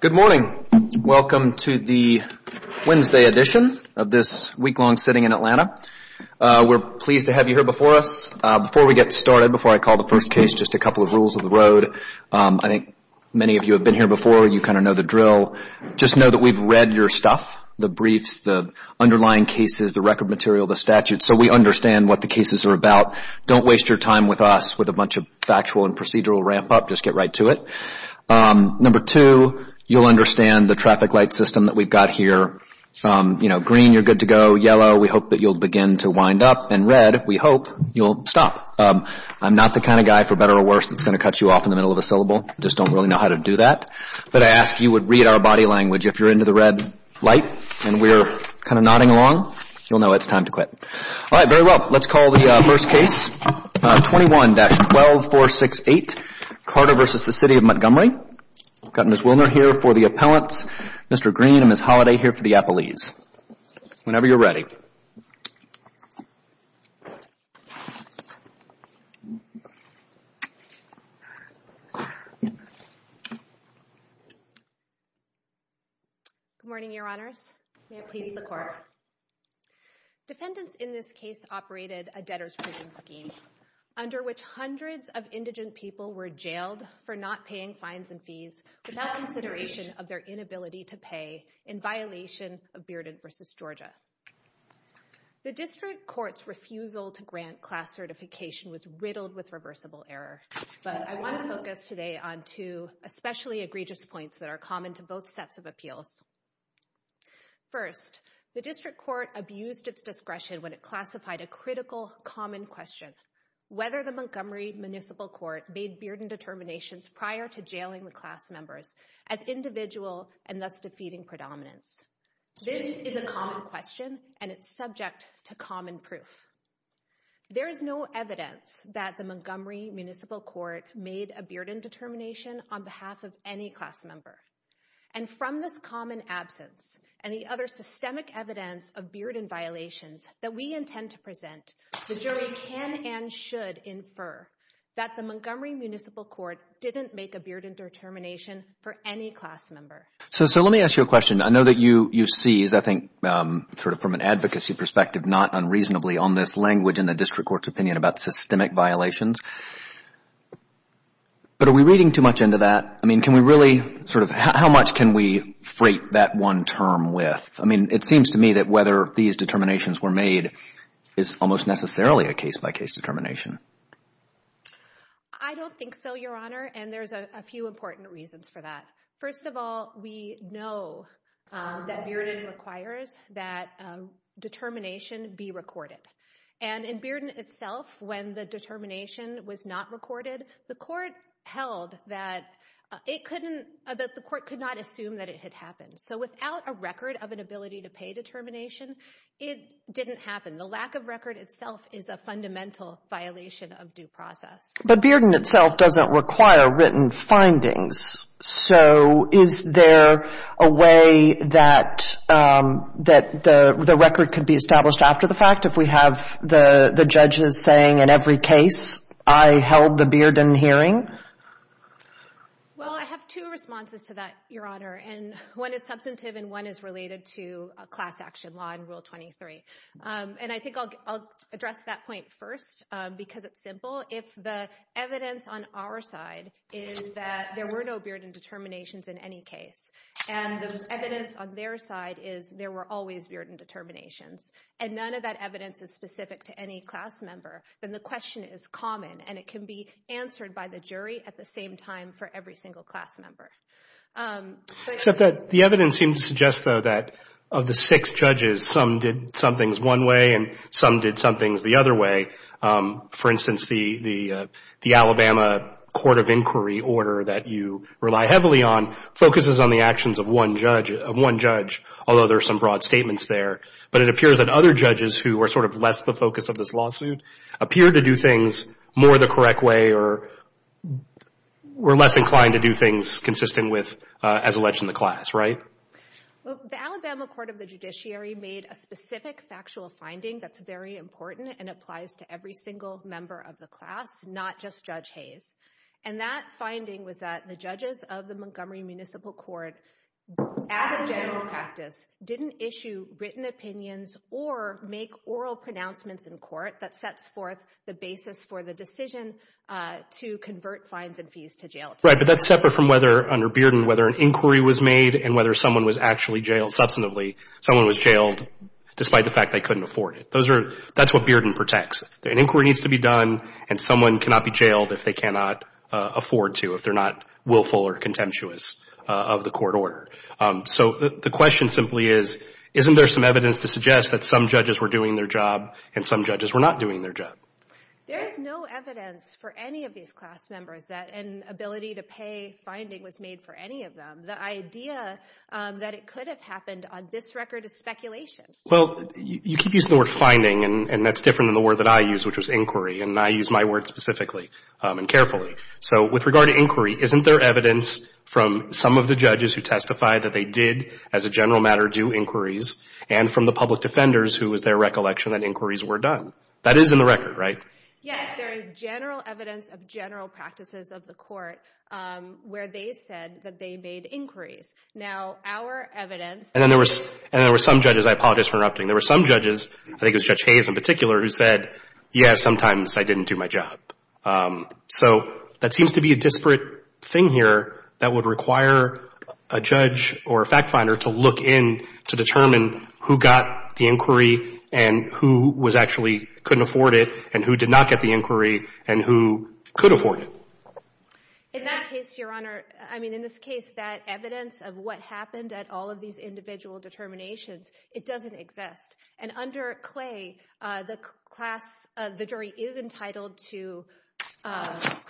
Good morning. Welcome to the Wednesday edition of this week-long sitting in Atlanta. We're pleased to have you here before us. Before we get started, before I call the first case, just a couple of rules of the road. I think many of you have been here before. You kind of know the drill. Just know that we've read your stuff, the briefs, the underlying cases, the record material, the statutes, so we understand what the cases are about. Don't waste your time with us with a bunch of factual and procedural ramp-up. Just get right to it. Number two, you'll understand the traffic light system that we've got here. Green, you're good to go. Yellow, we hope that you'll begin to wind up. And red, we hope you'll stop. I'm not the kind of guy, for better or worse, that's going to cut you off in the middle of a syllable. I just don't really know how to do that. But I ask you would read our body language. If you're into the red light and we're kind of nodding along, you'll know it's time to quit. All right, very well. Let's call the first case. 21-12468, Carter v. The City of Montgomery. I've got Ms. Wilner here for the appellants, Mr. Green and Ms. Holliday here for the appellees. Whenever you're ready. Good morning, Your Honors. May it please the Court. Defendants in this case operated a debtor's prison scheme under which hundreds of indigent people were jailed for not paying fines and fees without consideration of their inability to pay in violation of Bearden v. Georgia. The district court's refusal to grant class certification was riddled with reversible error. But I want to focus today on two especially important questions. The Montgomery Municipal Court abused its discretion when it classified a critical common question, whether the Montgomery Municipal Court made Bearden determinations prior to jailing the class members as individual and thus defeating predominance. This is a common question and it's subject to common proof. There is no evidence that the Montgomery Municipal Court made a Bearden determination on behalf of any class member. And from this that we intend to present, the jury can and should infer that the Montgomery Municipal Court didn't make a Bearden determination for any class member. So, sir, let me ask you a question. I know that you seize, I think, sort of from an advocacy perspective not unreasonably on this language in the district court's opinion about systemic violations. But are we reading too much into that? I mean, can we really sort of, how much can we freight that one term with? I mean, it seems to me that whether these determinations were made is almost necessarily a case-by-case determination. I don't think so, Your Honor. And there's a few important reasons for that. First of all, we know that Bearden requires that determination be recorded. And in Bearden itself, when the So without a record of an ability to pay determination, it didn't happen. The lack of record itself is a fundamental violation of due process. But Bearden itself doesn't require written findings. So is there a way that the record could be established after the fact if we have the judges saying in every case, I held the Bearden hearing? Well, I have two responses to that, Your Honor. And one is substantive, and one is related to a class action law in Rule 23. And I think I'll address that point first because it's simple. If the evidence on our side is that there were no Bearden determinations in any case, and the evidence on their side is there were always Bearden determinations, and none of that evidence is specific to any class member, then the question is common. And it can be answered by the jury at the same time for every single class member. The evidence seems to suggest, though, that of the six judges, some did some things one way and some did some things the other way. For instance, the Alabama Court of Inquiry order that you rely heavily on focuses on the actions of one judge, although there are some broad statements there. But it appears that other judges who are sort of less the correct way or were less inclined to do things consistent with as alleged in the class, right? Well, the Alabama Court of the Judiciary made a specific factual finding that's very important and applies to every single member of the class, not just Judge Hayes. And that finding was that the judges of the Montgomery Municipal Court, as a general practice, didn't issue written opinions or make oral pronouncements in court that sets forth the basis for the decision to convert fines and fees to jail time. Right, but that's separate from whether, under Bearden, whether an inquiry was made and whether someone was actually jailed substantively, someone was jailed despite the fact they couldn't afford it. Those are, that's what Bearden protects. An inquiry needs to be done and someone cannot be jailed if they cannot afford to, if they're not willful or contemptuous of the court order. So the question simply is, isn't there some evidence to suggest that some judges were doing their job and some judges were not doing their job? There's no evidence for any of these class members that an ability to pay finding was made for any of them. The idea that it could have happened on this record is speculation. Well, you keep using the word finding, and that's different than the word that I use, which was inquiry, and I use my word specifically and carefully. So with regard to inquiry, isn't there evidence from some of the judges who testify that they did, as a general matter, do inquiries, and from the public defenders, who is their recollection that inquiries were done? That is in the record, right? Yes, there is general evidence of general practices of the court, where they said that they made inquiries. Now, our evidence... And then there were some judges, I apologize for interrupting, there were some judges, I think it was Judge Hayes in particular, who said, yes, sometimes I didn't do my job. So that seems to be a disparate thing here that would require a judge or a fact finder to look in to determine who got the inquiry and who was actually couldn't afford it and who did not get the inquiry and who could afford it. In that case, Your Honor, I mean, in this case, that evidence of what happened at all of these individual determinations, it doesn't exist. And under Clay, the jury is entitled to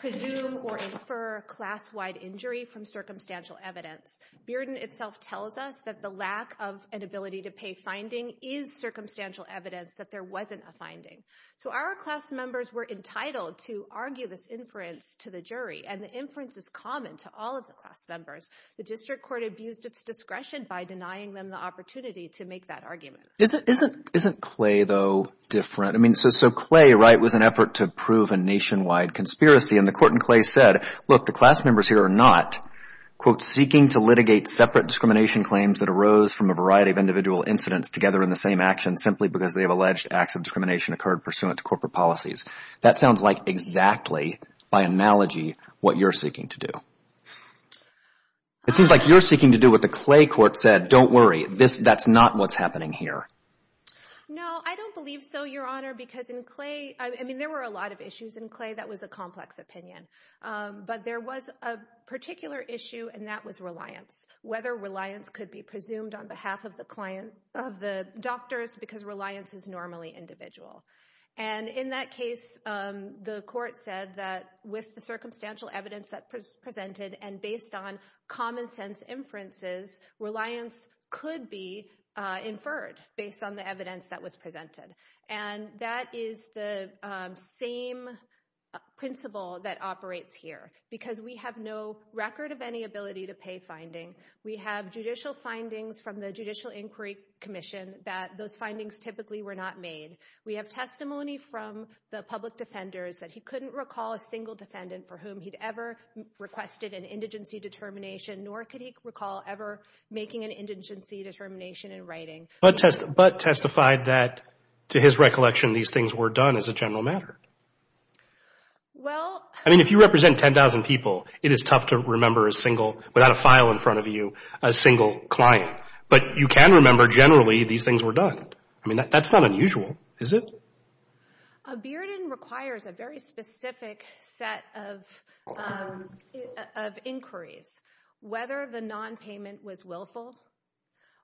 presume or infer class-wide injury from circumstantial evidence. Bearden itself tells us that the lack of an ability to pay finding is circumstantial evidence that there wasn't a finding. So our class members were entitled to argue this inference to the jury, and the inference is common to all of the class members. The district court abused its discretion by denying them the opportunity to make that argument. Isn't Clay, though, different? I mean, so Clay, right, was an effort to prove a nationwide conspiracy, and the court in Clay said, look, the class members here are not, quote, seeking to litigate separate discrimination claims that arose from a variety of individual incidents together in the same action simply because they have alleged acts of discrimination occurred pursuant to corporate policies. That sounds like exactly, by analogy, what you're seeking to do. It seems like you're seeking to do what the Clay court said. Don't worry. This, that's not what's happening here. No, I don't believe so, Your Honor, because in Clay, I mean, there were a lot of issues in Clay that was a complex opinion. But there was a particular issue, and that was reliance, whether reliance could be presumed on behalf of the client, of the doctors, because reliance is normally individual. And in that case, the court said that with the circumstantial evidence that was presented and based on common sense inferences, reliance could be inferred based on the evidence that was presented. And that is the same principle that operates here because we have no record of any ability to pay finding. We have judicial findings from the Judicial Inquiry Commission that those findings typically were not made. We have testimony from the public defenders that he couldn't recall a single defendant for whom he'd ever requested an indigency determination, nor could he recall ever making an indigency determination in writing. But testified that, to his recollection, these things were done as a general matter. Well... I mean, if you represent 10,000 people, it is tough to remember a single, without a file in front of you, a single client. But you can remember generally these things were done. I mean, that's not unusual, is it? A bearding requires a very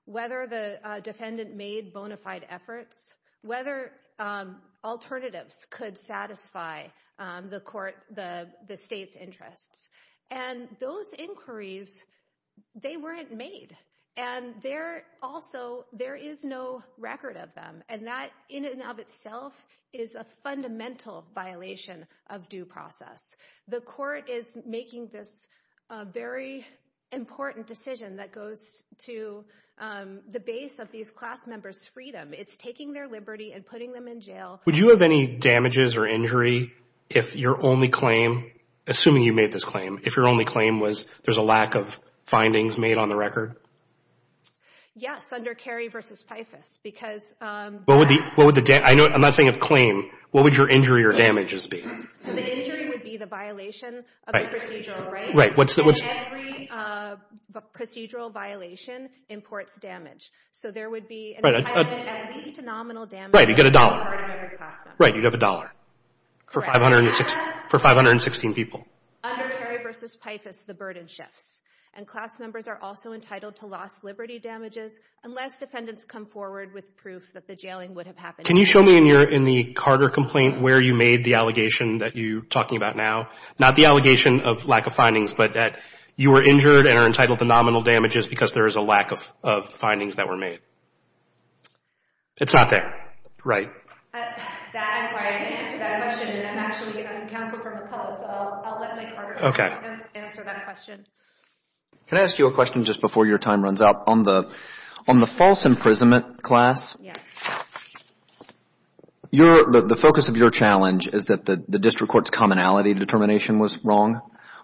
whether the defendant made bona fide efforts, whether alternatives could satisfy the court, the state's interests. And those inquiries, they weren't made. And there also, there is no record of them. And that, in and of itself, is a fundamental violation of due process. The court is making this very important decision that goes to the base of these class members' freedom. It's taking their liberty and putting them in jail. Would you have any damages or injury if your only claim, assuming you made this claim, if your only claim was there's a lack of findings made on the record? Yes, under Kerry v. Pifus, because... What would the... I'm not saying of claim. What would your injury or damages be? So the injury would be the violation of the procedural right? Right. What's the... And every procedural violation imports damage. So there would be at least a nominal damage... Right. You get a dollar. ...on the part of every class member. Right. You'd have a dollar. Correct. For 516 people. Under Kerry v. Pifus, the burden shifts. And class members are also entitled to lost liberty damages unless defendants come forward with proof that the jailing would have happened. Can you show me in the Carter complaint where you made the allegation that you're talking about now? Not the allegation of lack of findings, but that you were injured and are entitled to nominal damages because there is a lack of findings that were made. It's not there. Right. I'm sorry. I didn't answer that question. I'm actually counsel for McCullough, so I'll let my Carter colleague answer that question. Okay. Can I ask you a question just before your time runs out? On the false imprisonment class, the focus of your challenge is that the district court's commonality determination was wrong.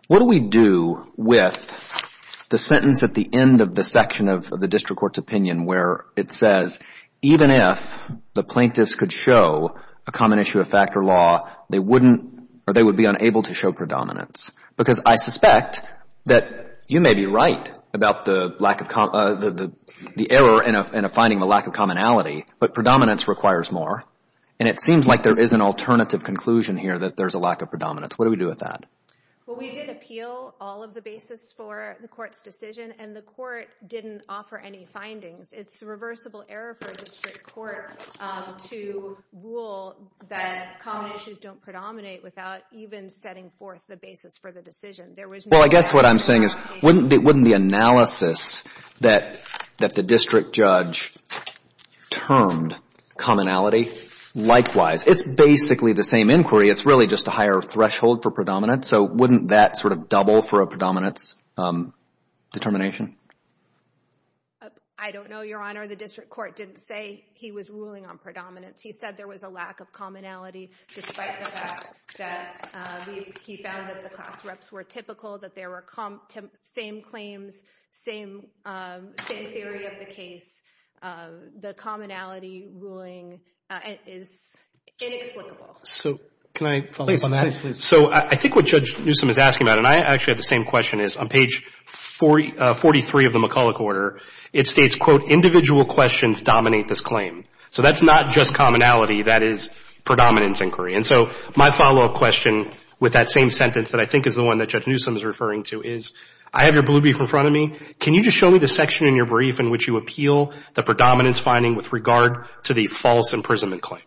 What do we do with the sentence at the end of the section of the district court's opinion where it says, even if the plaintiffs could show a common issue of fact or law, they wouldn't or they would be unable to show predominance? Because I suspect that you may be right about the error in finding the lack of commonality, but predominance requires more, and it seems like there is an alternative conclusion here that there's a lack of predominance. What do we do with that? Well, we did appeal all of the basis for the court's decision, and the court didn't offer any findings. It's a reversible error for a district court to rule that common issues don't predominate without even setting forth the basis for the decision. There was no... Well, I guess what I'm saying is, wouldn't the analysis that the district judge termed commonality, likewise, it's basically the same inquiry. It's really just a higher threshold for predominance, so wouldn't that sort of double for a predominance determination? I don't know, Your Honor. The district court didn't say he was ruling on predominance. He said there was a lack of commonality, despite the fact that he found that the class reps were typical, that there were same claims, same theory of the case. The commonality ruling is inexplicable. So can I follow up on that? So I think what Judge Newsom is asking about, and I actually have the same question, is on page 43 of the McCulloch order, it states, quote, individual questions dominate this claim. So that's not just commonality, that is predominance inquiry. And so my follow-up question with that same sentence that I think is the one that Judge Newsom is referring to is, I have your blue brief in front of me. Can you just show me the section in your brief in which you appeal the predominance finding with regard to the false imprisonment claim?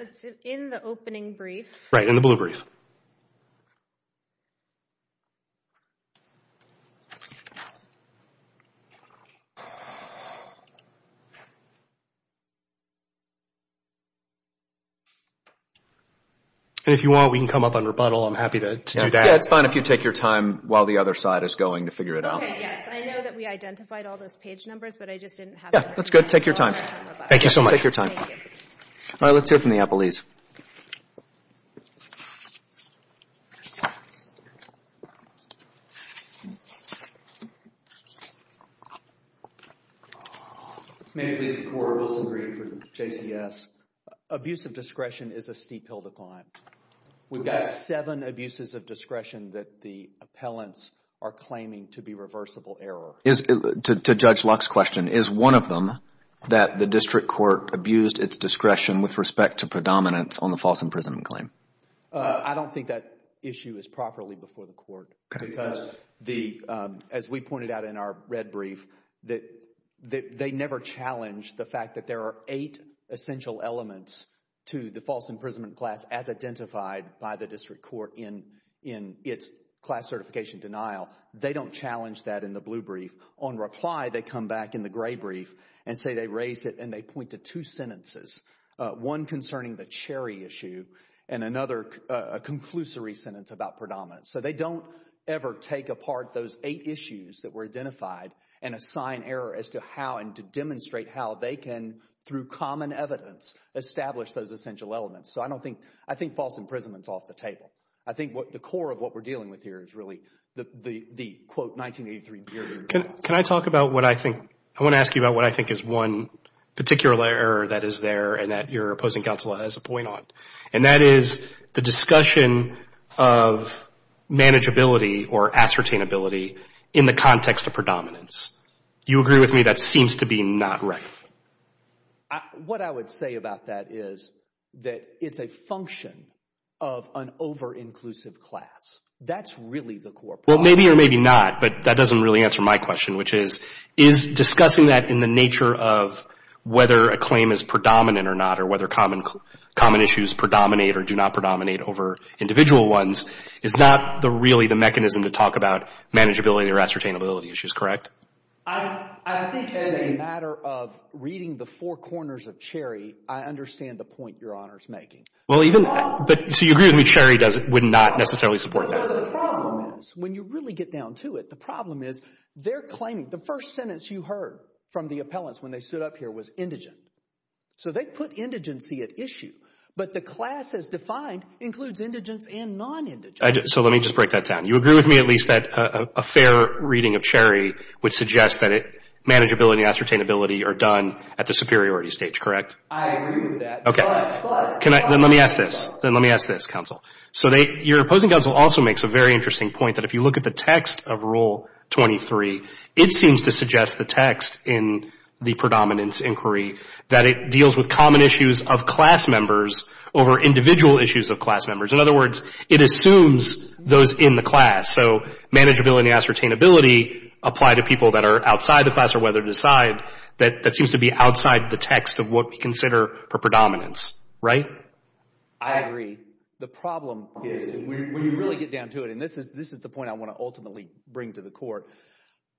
It's in the opening brief. Right, in the blue brief. And if you want, we can come up on rebuttal. I'm happy to do that. Yeah, it's fine if you take your time while the other side is going to figure it out. Okay, yes, I know that we identified all those page numbers, but I just didn't have the... Yeah, that's good. Take your time. Thank you so much. Take your time. Thank you. All right, let's hear from the appellees. Ma'am, please, I'm Cor Wilson Green from JCS. Abuse of discretion is a steep hill to climb. We've got seven abuses of discretion that the appellants are claiming to be reversible error. To Judge Luck's question, is one of them that the district court abused its discretion with respect to predominance on the false imprisonment claim? I don't think that issue is properly before the court because, as we pointed out in our red brief, they never challenged the fact that there are eight essential elements to the false imprisonment class as identified by the district court in its class certification denial. They don't challenge that in the blue brief. On reply, they come back in the gray brief and say they raised it, and they point to two sentences, one concerning the Cherry issue and another, a conclusory sentence about predominance. So they don't ever take apart those eight issues that were identified and assign error as to how and to demonstrate how they can, through common evidence, establish those essential elements. So I don't think, I think false imprisonment is off the table. I think the core of what we're dealing with here is really the, quote, 1983 period. Can I talk about what I think, I want to ask you about what I think is one particular error that is there and that your opposing counsel has a point on, and that is the discussion of manageability or ascertainability in the context of predominance. You agree with me that seems to be not right? What I would say about that is that it's a function of an over-inclusive class. That's really the core problem. Well, maybe or maybe not, but that doesn't really answer my question, which is, is discussing that in the nature of whether a claim is predominant or not, or whether common issues predominate or do not predominate over individual ones, is not really the mechanism to talk about I think as a matter of reading the four corners of Cherry, I understand the point your Honor's making. Well, even, but, so you agree with me Cherry does, would not necessarily support that? No, the problem is, when you really get down to it, the problem is they're claiming, the first sentence you heard from the appellants when they stood up here was indigent. So they put indigency at issue, but the class as defined includes indigents and non-indigents. So let me just break that down. You agree with me at least that a fair reading of Cherry would suggest that manageability and ascertainability are done at the superiority stage, correct? I agree with that. Okay. But, but, then let me ask this. Then let me ask this, Counsel. So your opposing counsel also makes a very interesting point that if you look at the text of Rule 23, it seems to suggest the text in the predominance inquiry that it deals with common issues of class members over individual issues of class members. In other words, it assumes those in the class. So manageability and ascertainability apply to people that are outside the class or whether to decide that seems to be outside the text of what we consider a predominance, right? I agree. The problem is when you really get down to it, and this is the point I want to ultimately bring to the Court,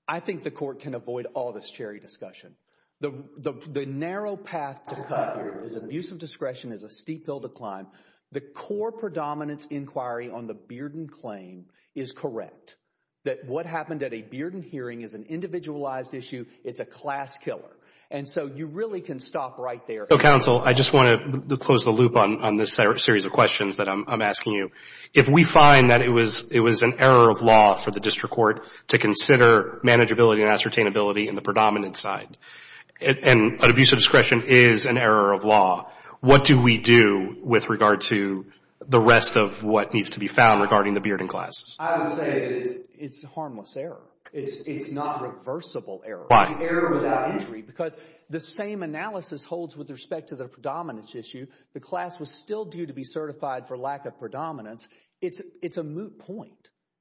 I think the Court can avoid all this Cherry discussion. The narrow path to cut here is abuse of discretion is a steep hill to climb. The core predominance inquiry on the Bearden claim is correct, that what happened at a Bearden hearing is an individualized issue, it's a class killer. And so you really can stop right there. So, Counsel, I just want to close the loop on this series of questions that I'm asking you. If we find that it was an error of law for the District Court to consider manageability and ascertainability in the predominance side, and abuse of discretion is an error of law, what do we do with regard to the rest of what needs to be found regarding the Bearden classes? I would say that it's harmless error. It's not reversible error. Why? It's error without injury. Because the same analysis holds with respect to the predominance issue. The class was still due to be certified for lack of predominance. It's a moot point.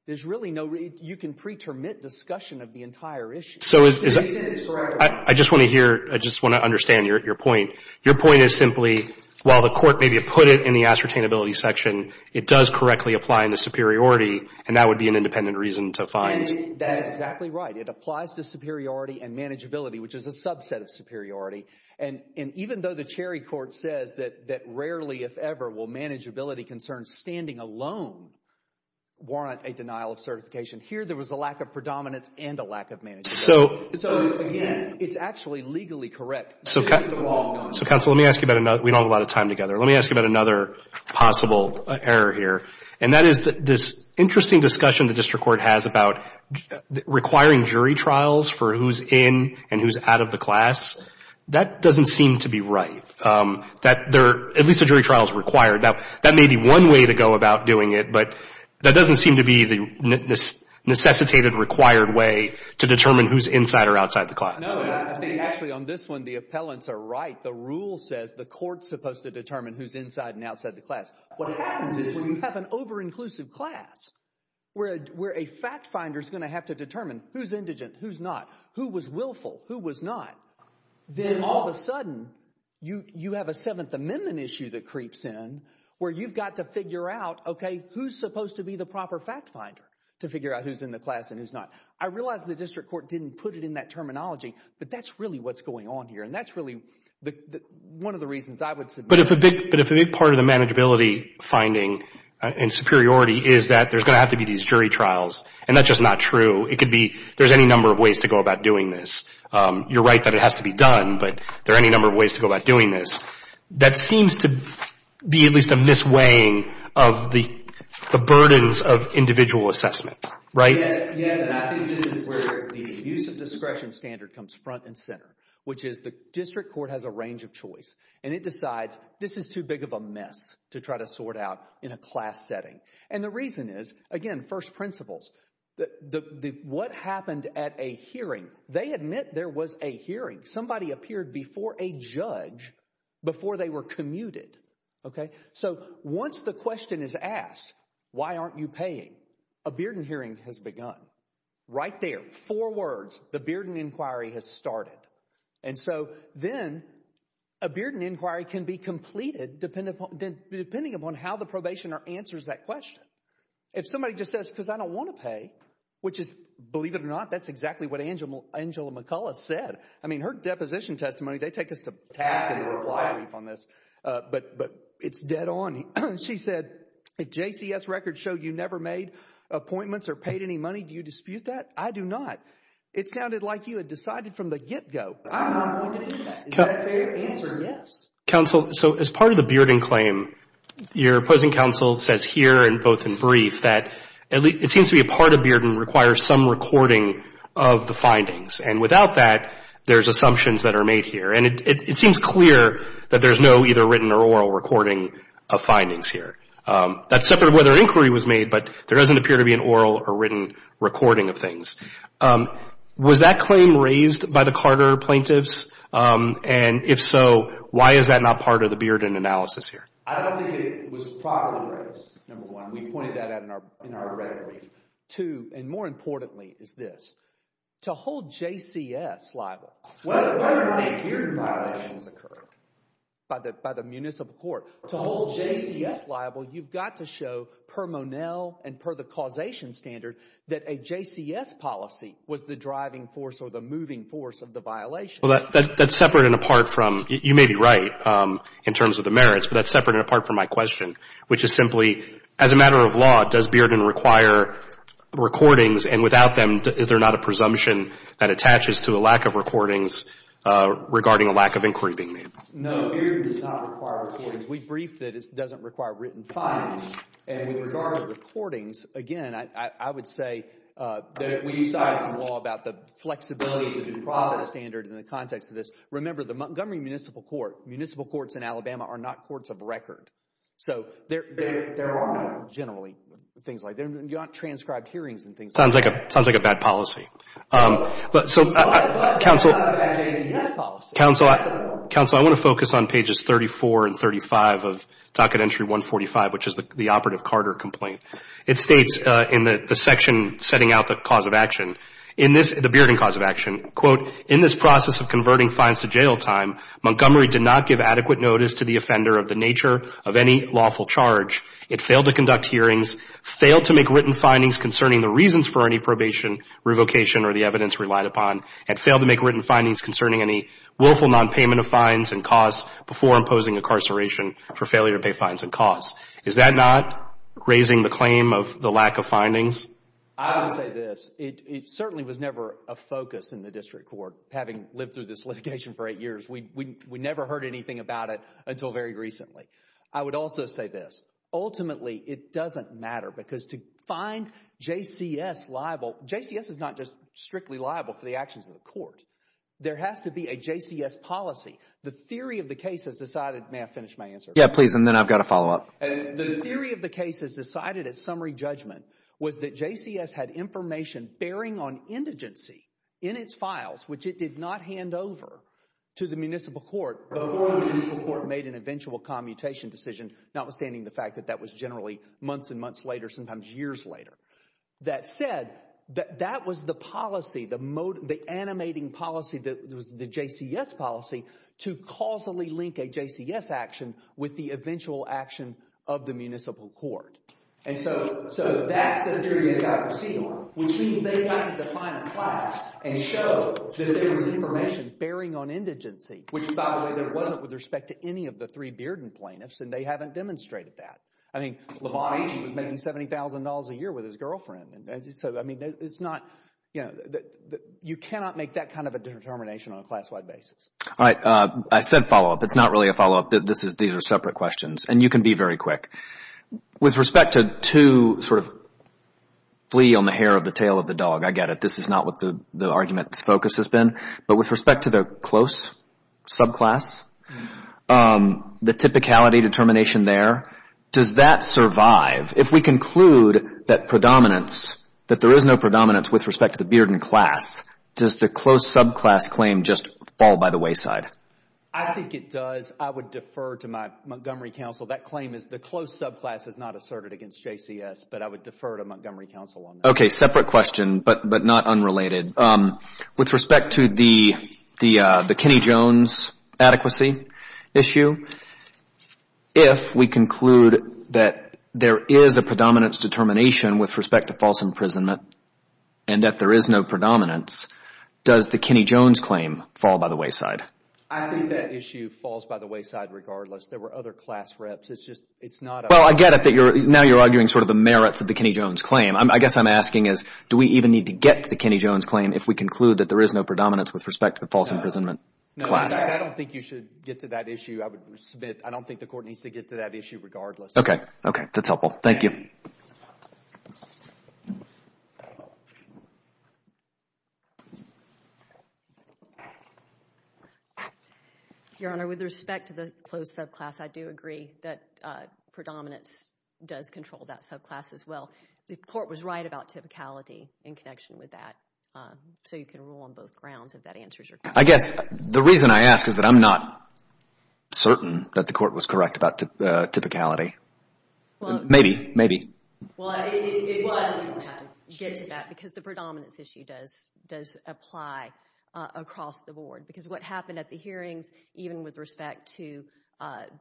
You can pre-termit discussion of the entire issue. So I just want to hear, I just want to understand your point. Your point is simply, while the court may be put it in the ascertainability section, it does correctly apply in the superiority, and that would be an independent reason to find. And that's exactly right. It applies to superiority and manageability, which is a subset of superiority. And even though the Cherry Court says that rarely, if ever, will manageability concerns standing alone warrant a denial of certification, here there was a lack of predominance and a lack of manageability. So again, it's actually legally correct. So counsel, let me ask you about another, we don't have a lot of time together. Let me ask you about another possible error here. And that is this interesting discussion the district court has about requiring jury trials for who's in and who's out of the class. That doesn't seem to be right. That there, at least the jury trial is required. That may be one way to go about doing it, but that doesn't seem to be the necessitated, required way to determine who's inside or outside the class. No, I think actually on this one, the appellants are right. The rule says the court's supposed to determine who's inside and outside the class. What happens is when you have an over-inclusive class where a fact finder's going to have to determine who's indigent, who's not, who was willful, who was not, then all of a sudden you have a Seventh Amendment issue that creeps in where you've got to figure out, okay, who's supposed to be the proper fact finder to figure out who's in the class and who's not? I realize the district court didn't put it in that terminology, but that's really what's going on here. And that's really one of the reasons I would submit. But if a big part of the manageability finding and superiority is that there's going to have to be these jury trials, and that's just not true, it could be there's any number of ways to go about doing this. You're right that it has to be done, but there are any number of ways to go about doing this. That seems to be at least a mis-weighing of the burdens of individual assessment, right? Yes. Yes. And I think this is where the use of discretion standard comes front and center, which is the district court has a range of choice, and it decides this is too big of a mess to try to sort out in a class setting. And the reason is, again, first principles. What happened at a hearing, they admit there was a hearing. Somebody appeared before a judge before they were commuted, okay? So once the question is asked, why aren't you paying, a beard and hearing has begun. Right there, four words, the beard and inquiry has started. And so then a beard and inquiry can be completed depending upon how the probationer answers that question. If somebody just says, because I don't want to pay, which is, believe it or not, that's exactly what Angela McCullough said. I mean, her deposition testimony, they take us to task in a reply brief on this, but it's dead on. She said, a JCS record showed you never made appointments or paid any money. Do you dispute that? I do not. It sounded like you had decided from the get-go. I'm not going to do that. Is that fair answer? Yes. Counsel, so as part of the beard and claim, your opposing counsel says here, and both in brief, that it seems to be a part of beard and requires some recording of the findings. And without that, there's assumptions that are made here. And it seems clear that there's no either written or oral recording of findings here. That's separate of whether inquiry was made, but there doesn't appear to be an oral or written recording of things. Was that claim raised by the Carter plaintiffs? And if so, why is that not part of the beard and analysis here? I don't think it was properly raised, number one. We pointed that out in our record brief. And more importantly is this. To hold JCS liable, whether or not a beard and violation has occurred by the municipal court, to hold JCS liable, you've got to show per Monell and per the causation standard that a JCS policy was the driving force or the moving force of the violation. That's separate and apart from, you may be right in terms of the merits, but that's separate and apart from my question, which is simply, as a matter of law, does Bearden require recordings and without them, is there not a presumption that attaches to a lack of recordings regarding a lack of inquiry being made? No, Bearden does not require recordings. We briefed that it doesn't require written findings. And with regard to recordings, again, I would say that if we decide some law about the flexibility of the due process standard in the context of this, remember the Montgomery Municipal Court. Municipal courts in Alabama are not courts of record. So there are not generally things like that. You don't have transcribed hearings and things like that. Sounds like a bad policy. But it's not a bad JCS policy. Counsel, I want to focus on pages 34 and 35 of Docket Entry 145, which is the operative Carter complaint. It states in the section setting out the cause of action, the Bearden cause of action, quote, In this process of converting fines to jail time, Montgomery did not give adequate notice to the offender of the nature of any lawful charge. It failed to conduct hearings, failed to make written findings concerning the reasons for any probation, revocation, or the evidence relied upon, and failed to make written findings concerning any willful nonpayment of fines and costs before imposing incarceration for failure to pay fines and costs. Is that not raising the claim of the lack of findings? I would say this. It certainly was never a focus in the district court, having lived through this litigation for eight years. We never heard anything about it until very recently. I would also say this. Ultimately, it doesn't matter because to find JCS liable, JCS is not just strictly liable for the actions of the court. There has to be a JCS policy. The theory of the case has decided, may I finish my answer? Yeah, please, and then I've got to follow up. The theory of the case has decided, at summary judgment, was that JCS had information bearing on indigency in its files, which it did not hand over to the municipal court before the municipal court made an eventual commutation decision, notwithstanding the fact that that was generally months and months later, sometimes years later. That said, that was the policy, the animating policy, the JCS policy, to causally link a of the municipal court. And so that's the theory of the bankruptcy norm, which means they had to define the class and show that there was information bearing on indigency, which by the way, there wasn't with respect to any of the three Bearden plaintiffs, and they haven't demonstrated that. I mean, LeBron, he was making $70,000 a year with his girlfriend, and so I mean, it's not, you know, you cannot make that kind of a determination on a class-wide basis. All right, I said follow up. It's not really a follow up. These are separate questions, and you can be very quick. With respect to to sort of flee on the hair of the tail of the dog, I get it. This is not what the argument's focus has been. But with respect to the close subclass, the typicality determination there, does that survive? If we conclude that predominance, that there is no predominance with respect to the Bearden class, does the close subclass claim just fall by the wayside? I think it does. I would defer to my Montgomery counsel. That claim is the close subclass is not asserted against JCS, but I would defer to Montgomery counsel on that. Okay, separate question, but not unrelated. With respect to the Kenny Jones adequacy issue, if we conclude that there is a predominance determination with respect to false imprisonment, and that there is no predominance, does the Kenny Jones claim fall by the wayside? I think that issue falls by the wayside regardless. There were other class reps. It's just, it's not a... Well, I get it that you're, now you're arguing sort of the merits of the Kenny Jones claim. I guess I'm asking is, do we even need to get to the Kenny Jones claim if we conclude that there is no predominance with respect to the false imprisonment class? No, I don't think you should get to that issue. I would submit, I don't think the court needs to get to that issue regardless. Okay, okay. That's helpful. Thank you. Your Honor, with respect to the closed subclass, I do agree that predominance does control that subclass as well. The court was right about typicality in connection with that, so you can rule on both grounds if that answers your question. I guess, the reason I ask is that I'm not certain that the court was correct about typicality. Maybe, maybe. Well, it was. You don't have to get to that because the predominance issue does apply across the board because what happened at the hearings, even with respect to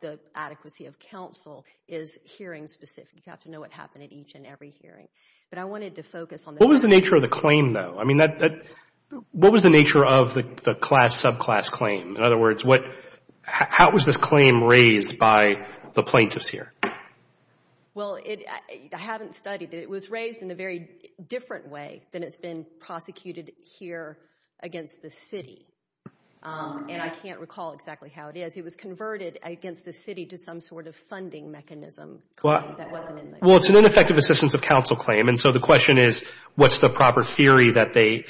the adequacy of counsel, is hearing specific. You have to know what happened at each and every hearing, but I wanted to focus on that. What was the nature of the claim though? I mean, what was the nature of the class subclass claim? In other words, how was this claim raised by the plaintiffs here? Well, I haven't studied it. It was raised in a very different way than it's been prosecuted here against the city. I can't recall exactly how it is. It was converted against the city to some sort of funding mechanism that wasn't in the case. Well, it's an ineffective assistance of counsel claim, and so the question is, what's the proper theory that they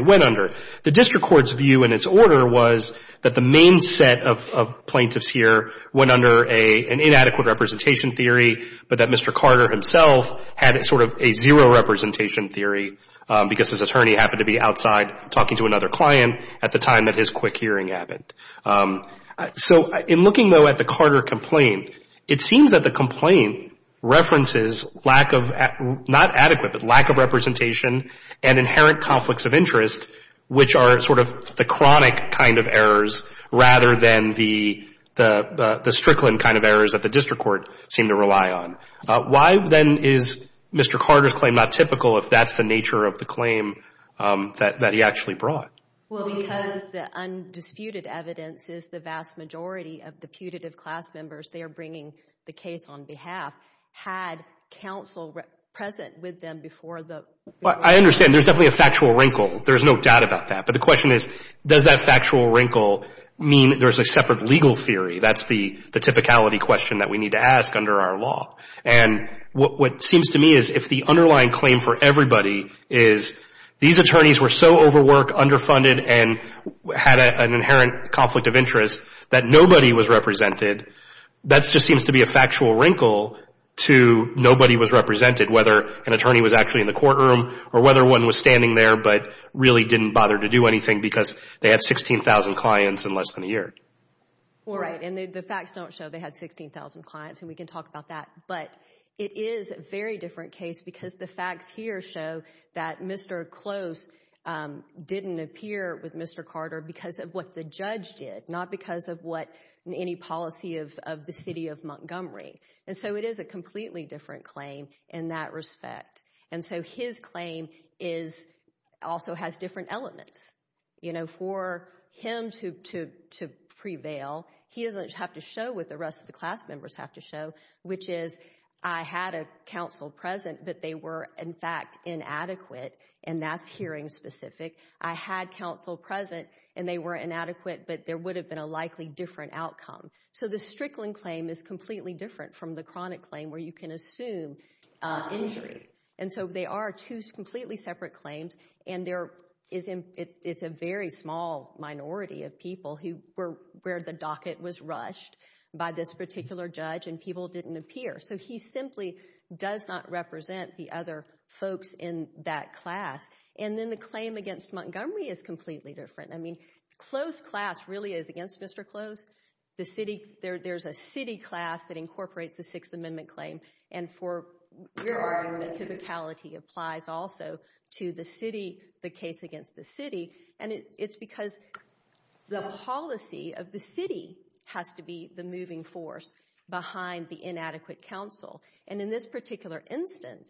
went under? The district court's view in its order was that the main set of plaintiffs here went under an inadequate representation theory, but that Mr. Carter himself had sort of a zero representation theory because his attorney happened to be outside talking to another client at the time that his quick hearing happened. So in looking though at the Carter complaint, it seems that the complaint references lack of representation and inherent conflicts of interest, which are sort of the chronic kind of errors rather than the strickland kind of errors that the district court seemed to rely on. Why then is Mr. Carter's claim not typical if that's the nature of the claim that he actually brought? Well, because the undisputed evidence is the vast majority of the putative class members they are bringing the case on behalf had counsel present with them before the... I understand. There's definitely a factual wrinkle. There's no doubt about that. But the question is, does that factual wrinkle mean there's a separate legal theory? That's the typicality question that we need to ask under our law. And what seems to me is if the underlying claim for everybody is these attorneys were so overworked, underfunded, and had an inherent conflict of interest that nobody was represented, that just seems to be a factual wrinkle to nobody was represented, whether an attorney was actually in the courtroom or whether one was standing there but really didn't bother to do anything because they had 16,000 clients in less than a year. Right. And the facts don't show they had 16,000 clients, and we can talk about that. But it is a very different case because the facts here show that Mr. Close didn't appear with Mr. Carter because of what the judge did, not because of what any policy of the city of Montgomery. And so it is a completely different claim in that respect. And so his claim also has different elements. You know, for him to prevail, he doesn't have to show what the rest of the class members have to show, which is, I had a counsel present, but they were, in fact, inadequate. And that's hearing specific. I had counsel present, and they were inadequate, but there would have been a likely different outcome. So the Strickland claim is completely different from the chronic claim where you can assume injury. And so they are two completely separate claims. And there is a very small minority of people who were where the docket was rushed by this particular judge, and people didn't appear. So he simply does not represent the other folks in that class. And then the claim against Montgomery is completely different. I mean, Close class really is against Mr. Close. The city, there's a city class that incorporates the Sixth Amendment claim. And for your argument, typicality applies also to the city, the case against the city. And it's because the policy of the city has to be the moving force behind the inadequate counsel. And in this particular instance,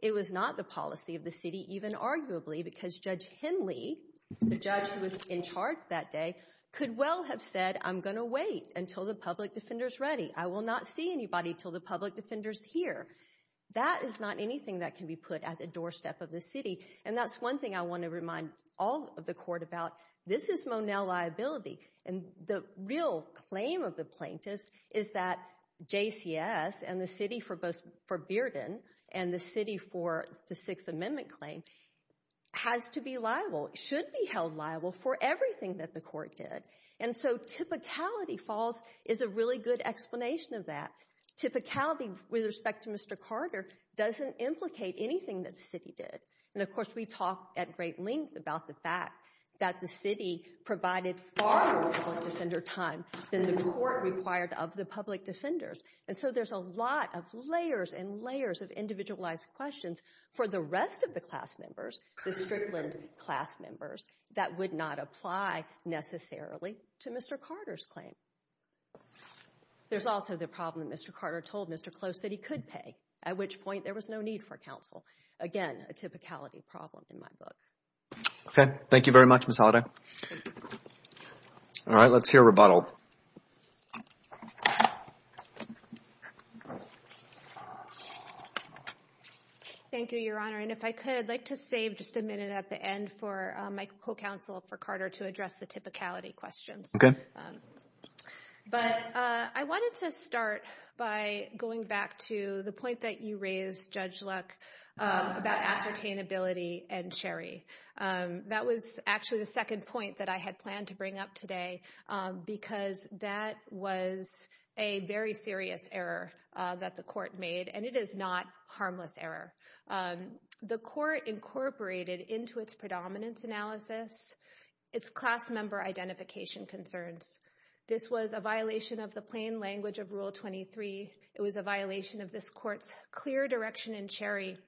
it was not the policy of the city, even arguably, because Judge Henley, the judge who was in charge that day, could well have said, I'm going to wait until the public defender's ready. I will not see anybody until the public defender's here. That is not anything that can be put at the doorstep of the city. And that's one thing I want to remind all of the court about. This is Monell liability. And the real claim of the plaintiffs is that JCS and the city for Bearden and the city for the Sixth Amendment claim has to be liable, should be held liable for everything that the court did. And so typicality falls is a really good explanation of that. Typicality with respect to Mr. Carter doesn't implicate anything that the city did. And of course, we talk at great length about the fact that the city provided far more public defender time than the court required of the public defenders. And so there's a lot of layers and layers of individualized questions for the rest of the class members, the Strickland class members, that would not apply necessarily to Mr. Carter's claim. There's also the problem that Mr. Carter told Mr. Close that he could pay, at which point there was no need for counsel. Again, a typicality problem in my book. Okay. Thank you very much, Ms. Holliday. All right. Let's hear rebuttal. Thank you, Your Honor. And if I could, I'd like to save just a minute at the end for my co-counsel for Carter to address the typicality questions. Okay. But I wanted to start by going back to the point that you raised, Judge Luck, about ascertainability and Sherry. That was actually the second point that I had planned to bring up today, because that was a very serious error that the court made, and it is not a harmless error. The court incorporated into its predominance analysis its class member identification concerns This was a violation of the plain language of Rule 23. It was a violation of this court's clear direction in Sherry,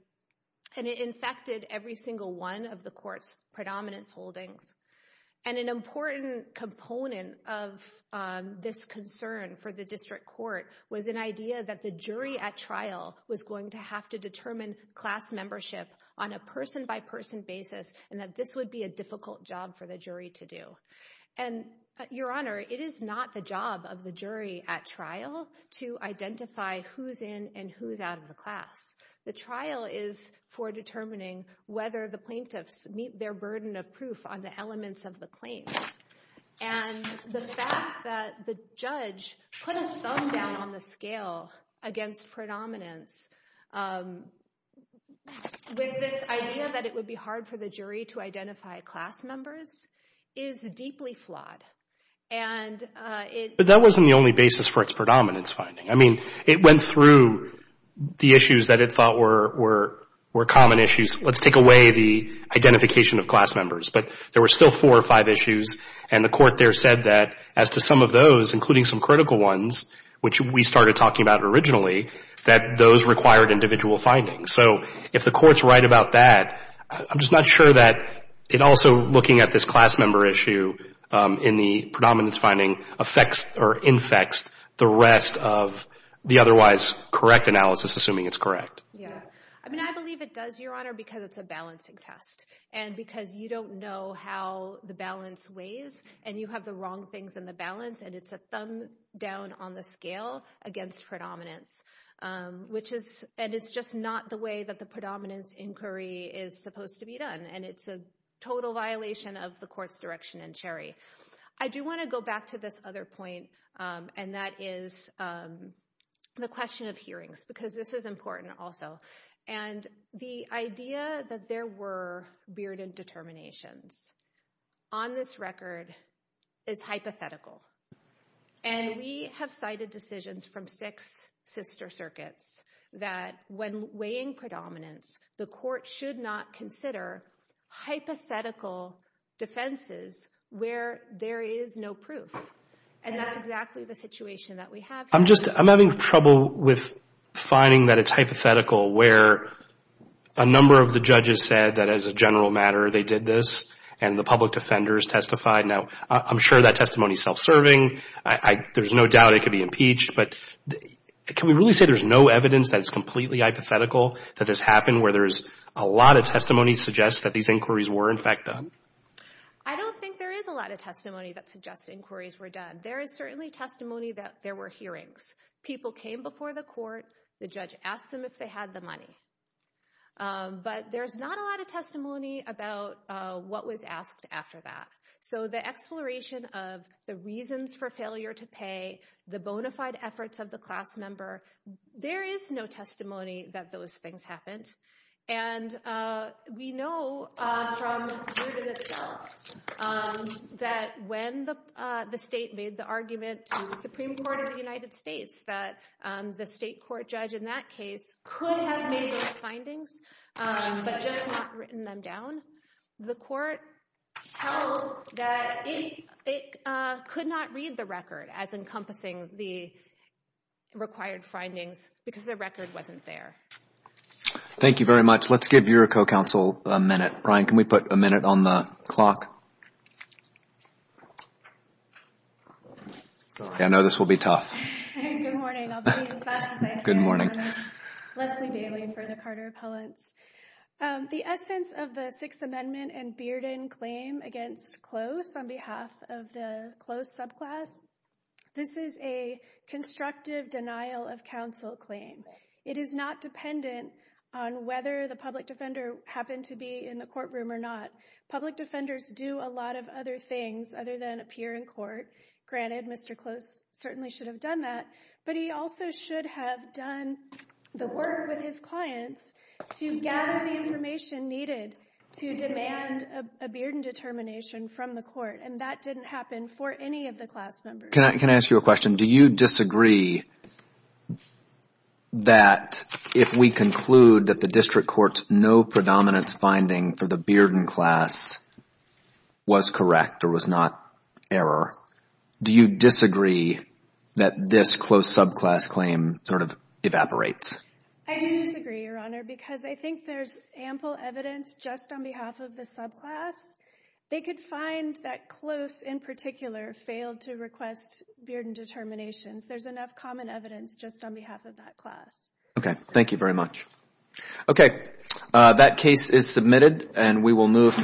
and it infected every single one of the court's predominance holdings. And an important component of this concern for the district court was an idea that the jury at trial was going to have to determine class membership on a person-by-person basis, and that this would be a difficult job for the jury to do. And, Your Honor, it is not the job of the jury at trial to identify who's in and who's out of the class. The trial is for determining whether the plaintiffs meet their burden of proof on the elements of the claims. And the fact that the judge put a thumb down on the scale against predominance with this is deeply flawed. And it But that wasn't the only basis for its predominance finding. I mean, it went through the issues that it thought were common issues. Let's take away the identification of class members. But there were still four or five issues, and the court there said that, as to some of those, including some critical ones, which we started talking about originally, that those required individual findings. So if the court's right about that, I'm just not sure that it also, looking at this class member issue in the predominance finding, affects or infects the rest of the otherwise correct analysis, assuming it's correct. Yeah. I mean, I believe it does, Your Honor, because it's a balancing test. And because you don't know how the balance weighs, and you have the wrong things in the balance, and it's a thumb down on the scale against predominance, which is, and it's just not the way that the predominance inquiry is supposed to be done. And it's a total violation of the court's direction in Cherry. I do want to go back to this other point, and that is the question of hearings, because this is important also. And the idea that there were bearded determinations on this record is hypothetical. And we have cited decisions from six sister circuits that, when weighing predominance, the court should not consider hypothetical defenses where there is no proof. And that's exactly the situation that we have here. I'm having trouble with finding that it's hypothetical where a number of the judges said that, as a general matter, they did this, and the public defenders testified. Now, I'm sure that testimony is self-serving. There's no doubt it could be impeached, but can we really say there's no evidence that it's completely hypothetical that this happened, where there's a lot of testimony suggests that these inquiries were, in fact, done? I don't think there is a lot of testimony that suggests inquiries were done. There is certainly testimony that there were hearings. People came before the court. The judge asked them if they had the money. But there's not a lot of testimony about what was asked after that. So the exploration of the reasons for failure to pay, the bona fide efforts of the class member, there is no testimony that those things happened. And we know from the evidence itself that when the state made the argument to the Supreme Court of the United States that the state court judge in that case could have made those findings, but just not written them down, the court held that it could not read the required findings because the record wasn't there. Thank you very much. Let's give your co-counsel a minute. Brian, can we put a minute on the clock? I know this will be tough. Good morning. I'll be as fast as I can. Good morning. Leslie Bailey for the Carter Appellants. The essence of the Sixth Amendment and Bearden claim against Close on behalf of the Close subclass, this is a constructive denial of counsel claim. It is not dependent on whether the public defender happened to be in the courtroom or not. Public defenders do a lot of other things other than appear in court. Granted, Mr. Close certainly should have done that, but he also should have done the work with his clients to gather the information needed to demand a Bearden determination from the court. That didn't happen for any of the class members. Can I ask you a question? Do you disagree that if we conclude that the district court's no-predominance finding for the Bearden class was correct or was not error, do you disagree that this Close subclass claim sort of evaporates? I do disagree, Your Honor, because I think there's ample evidence just on behalf of the subclass. They could find that Close, in particular, failed to request Bearden determinations. There's enough common evidence just on behalf of that class. Okay. Thank you very much. Okay. That case is submitted, and we will move to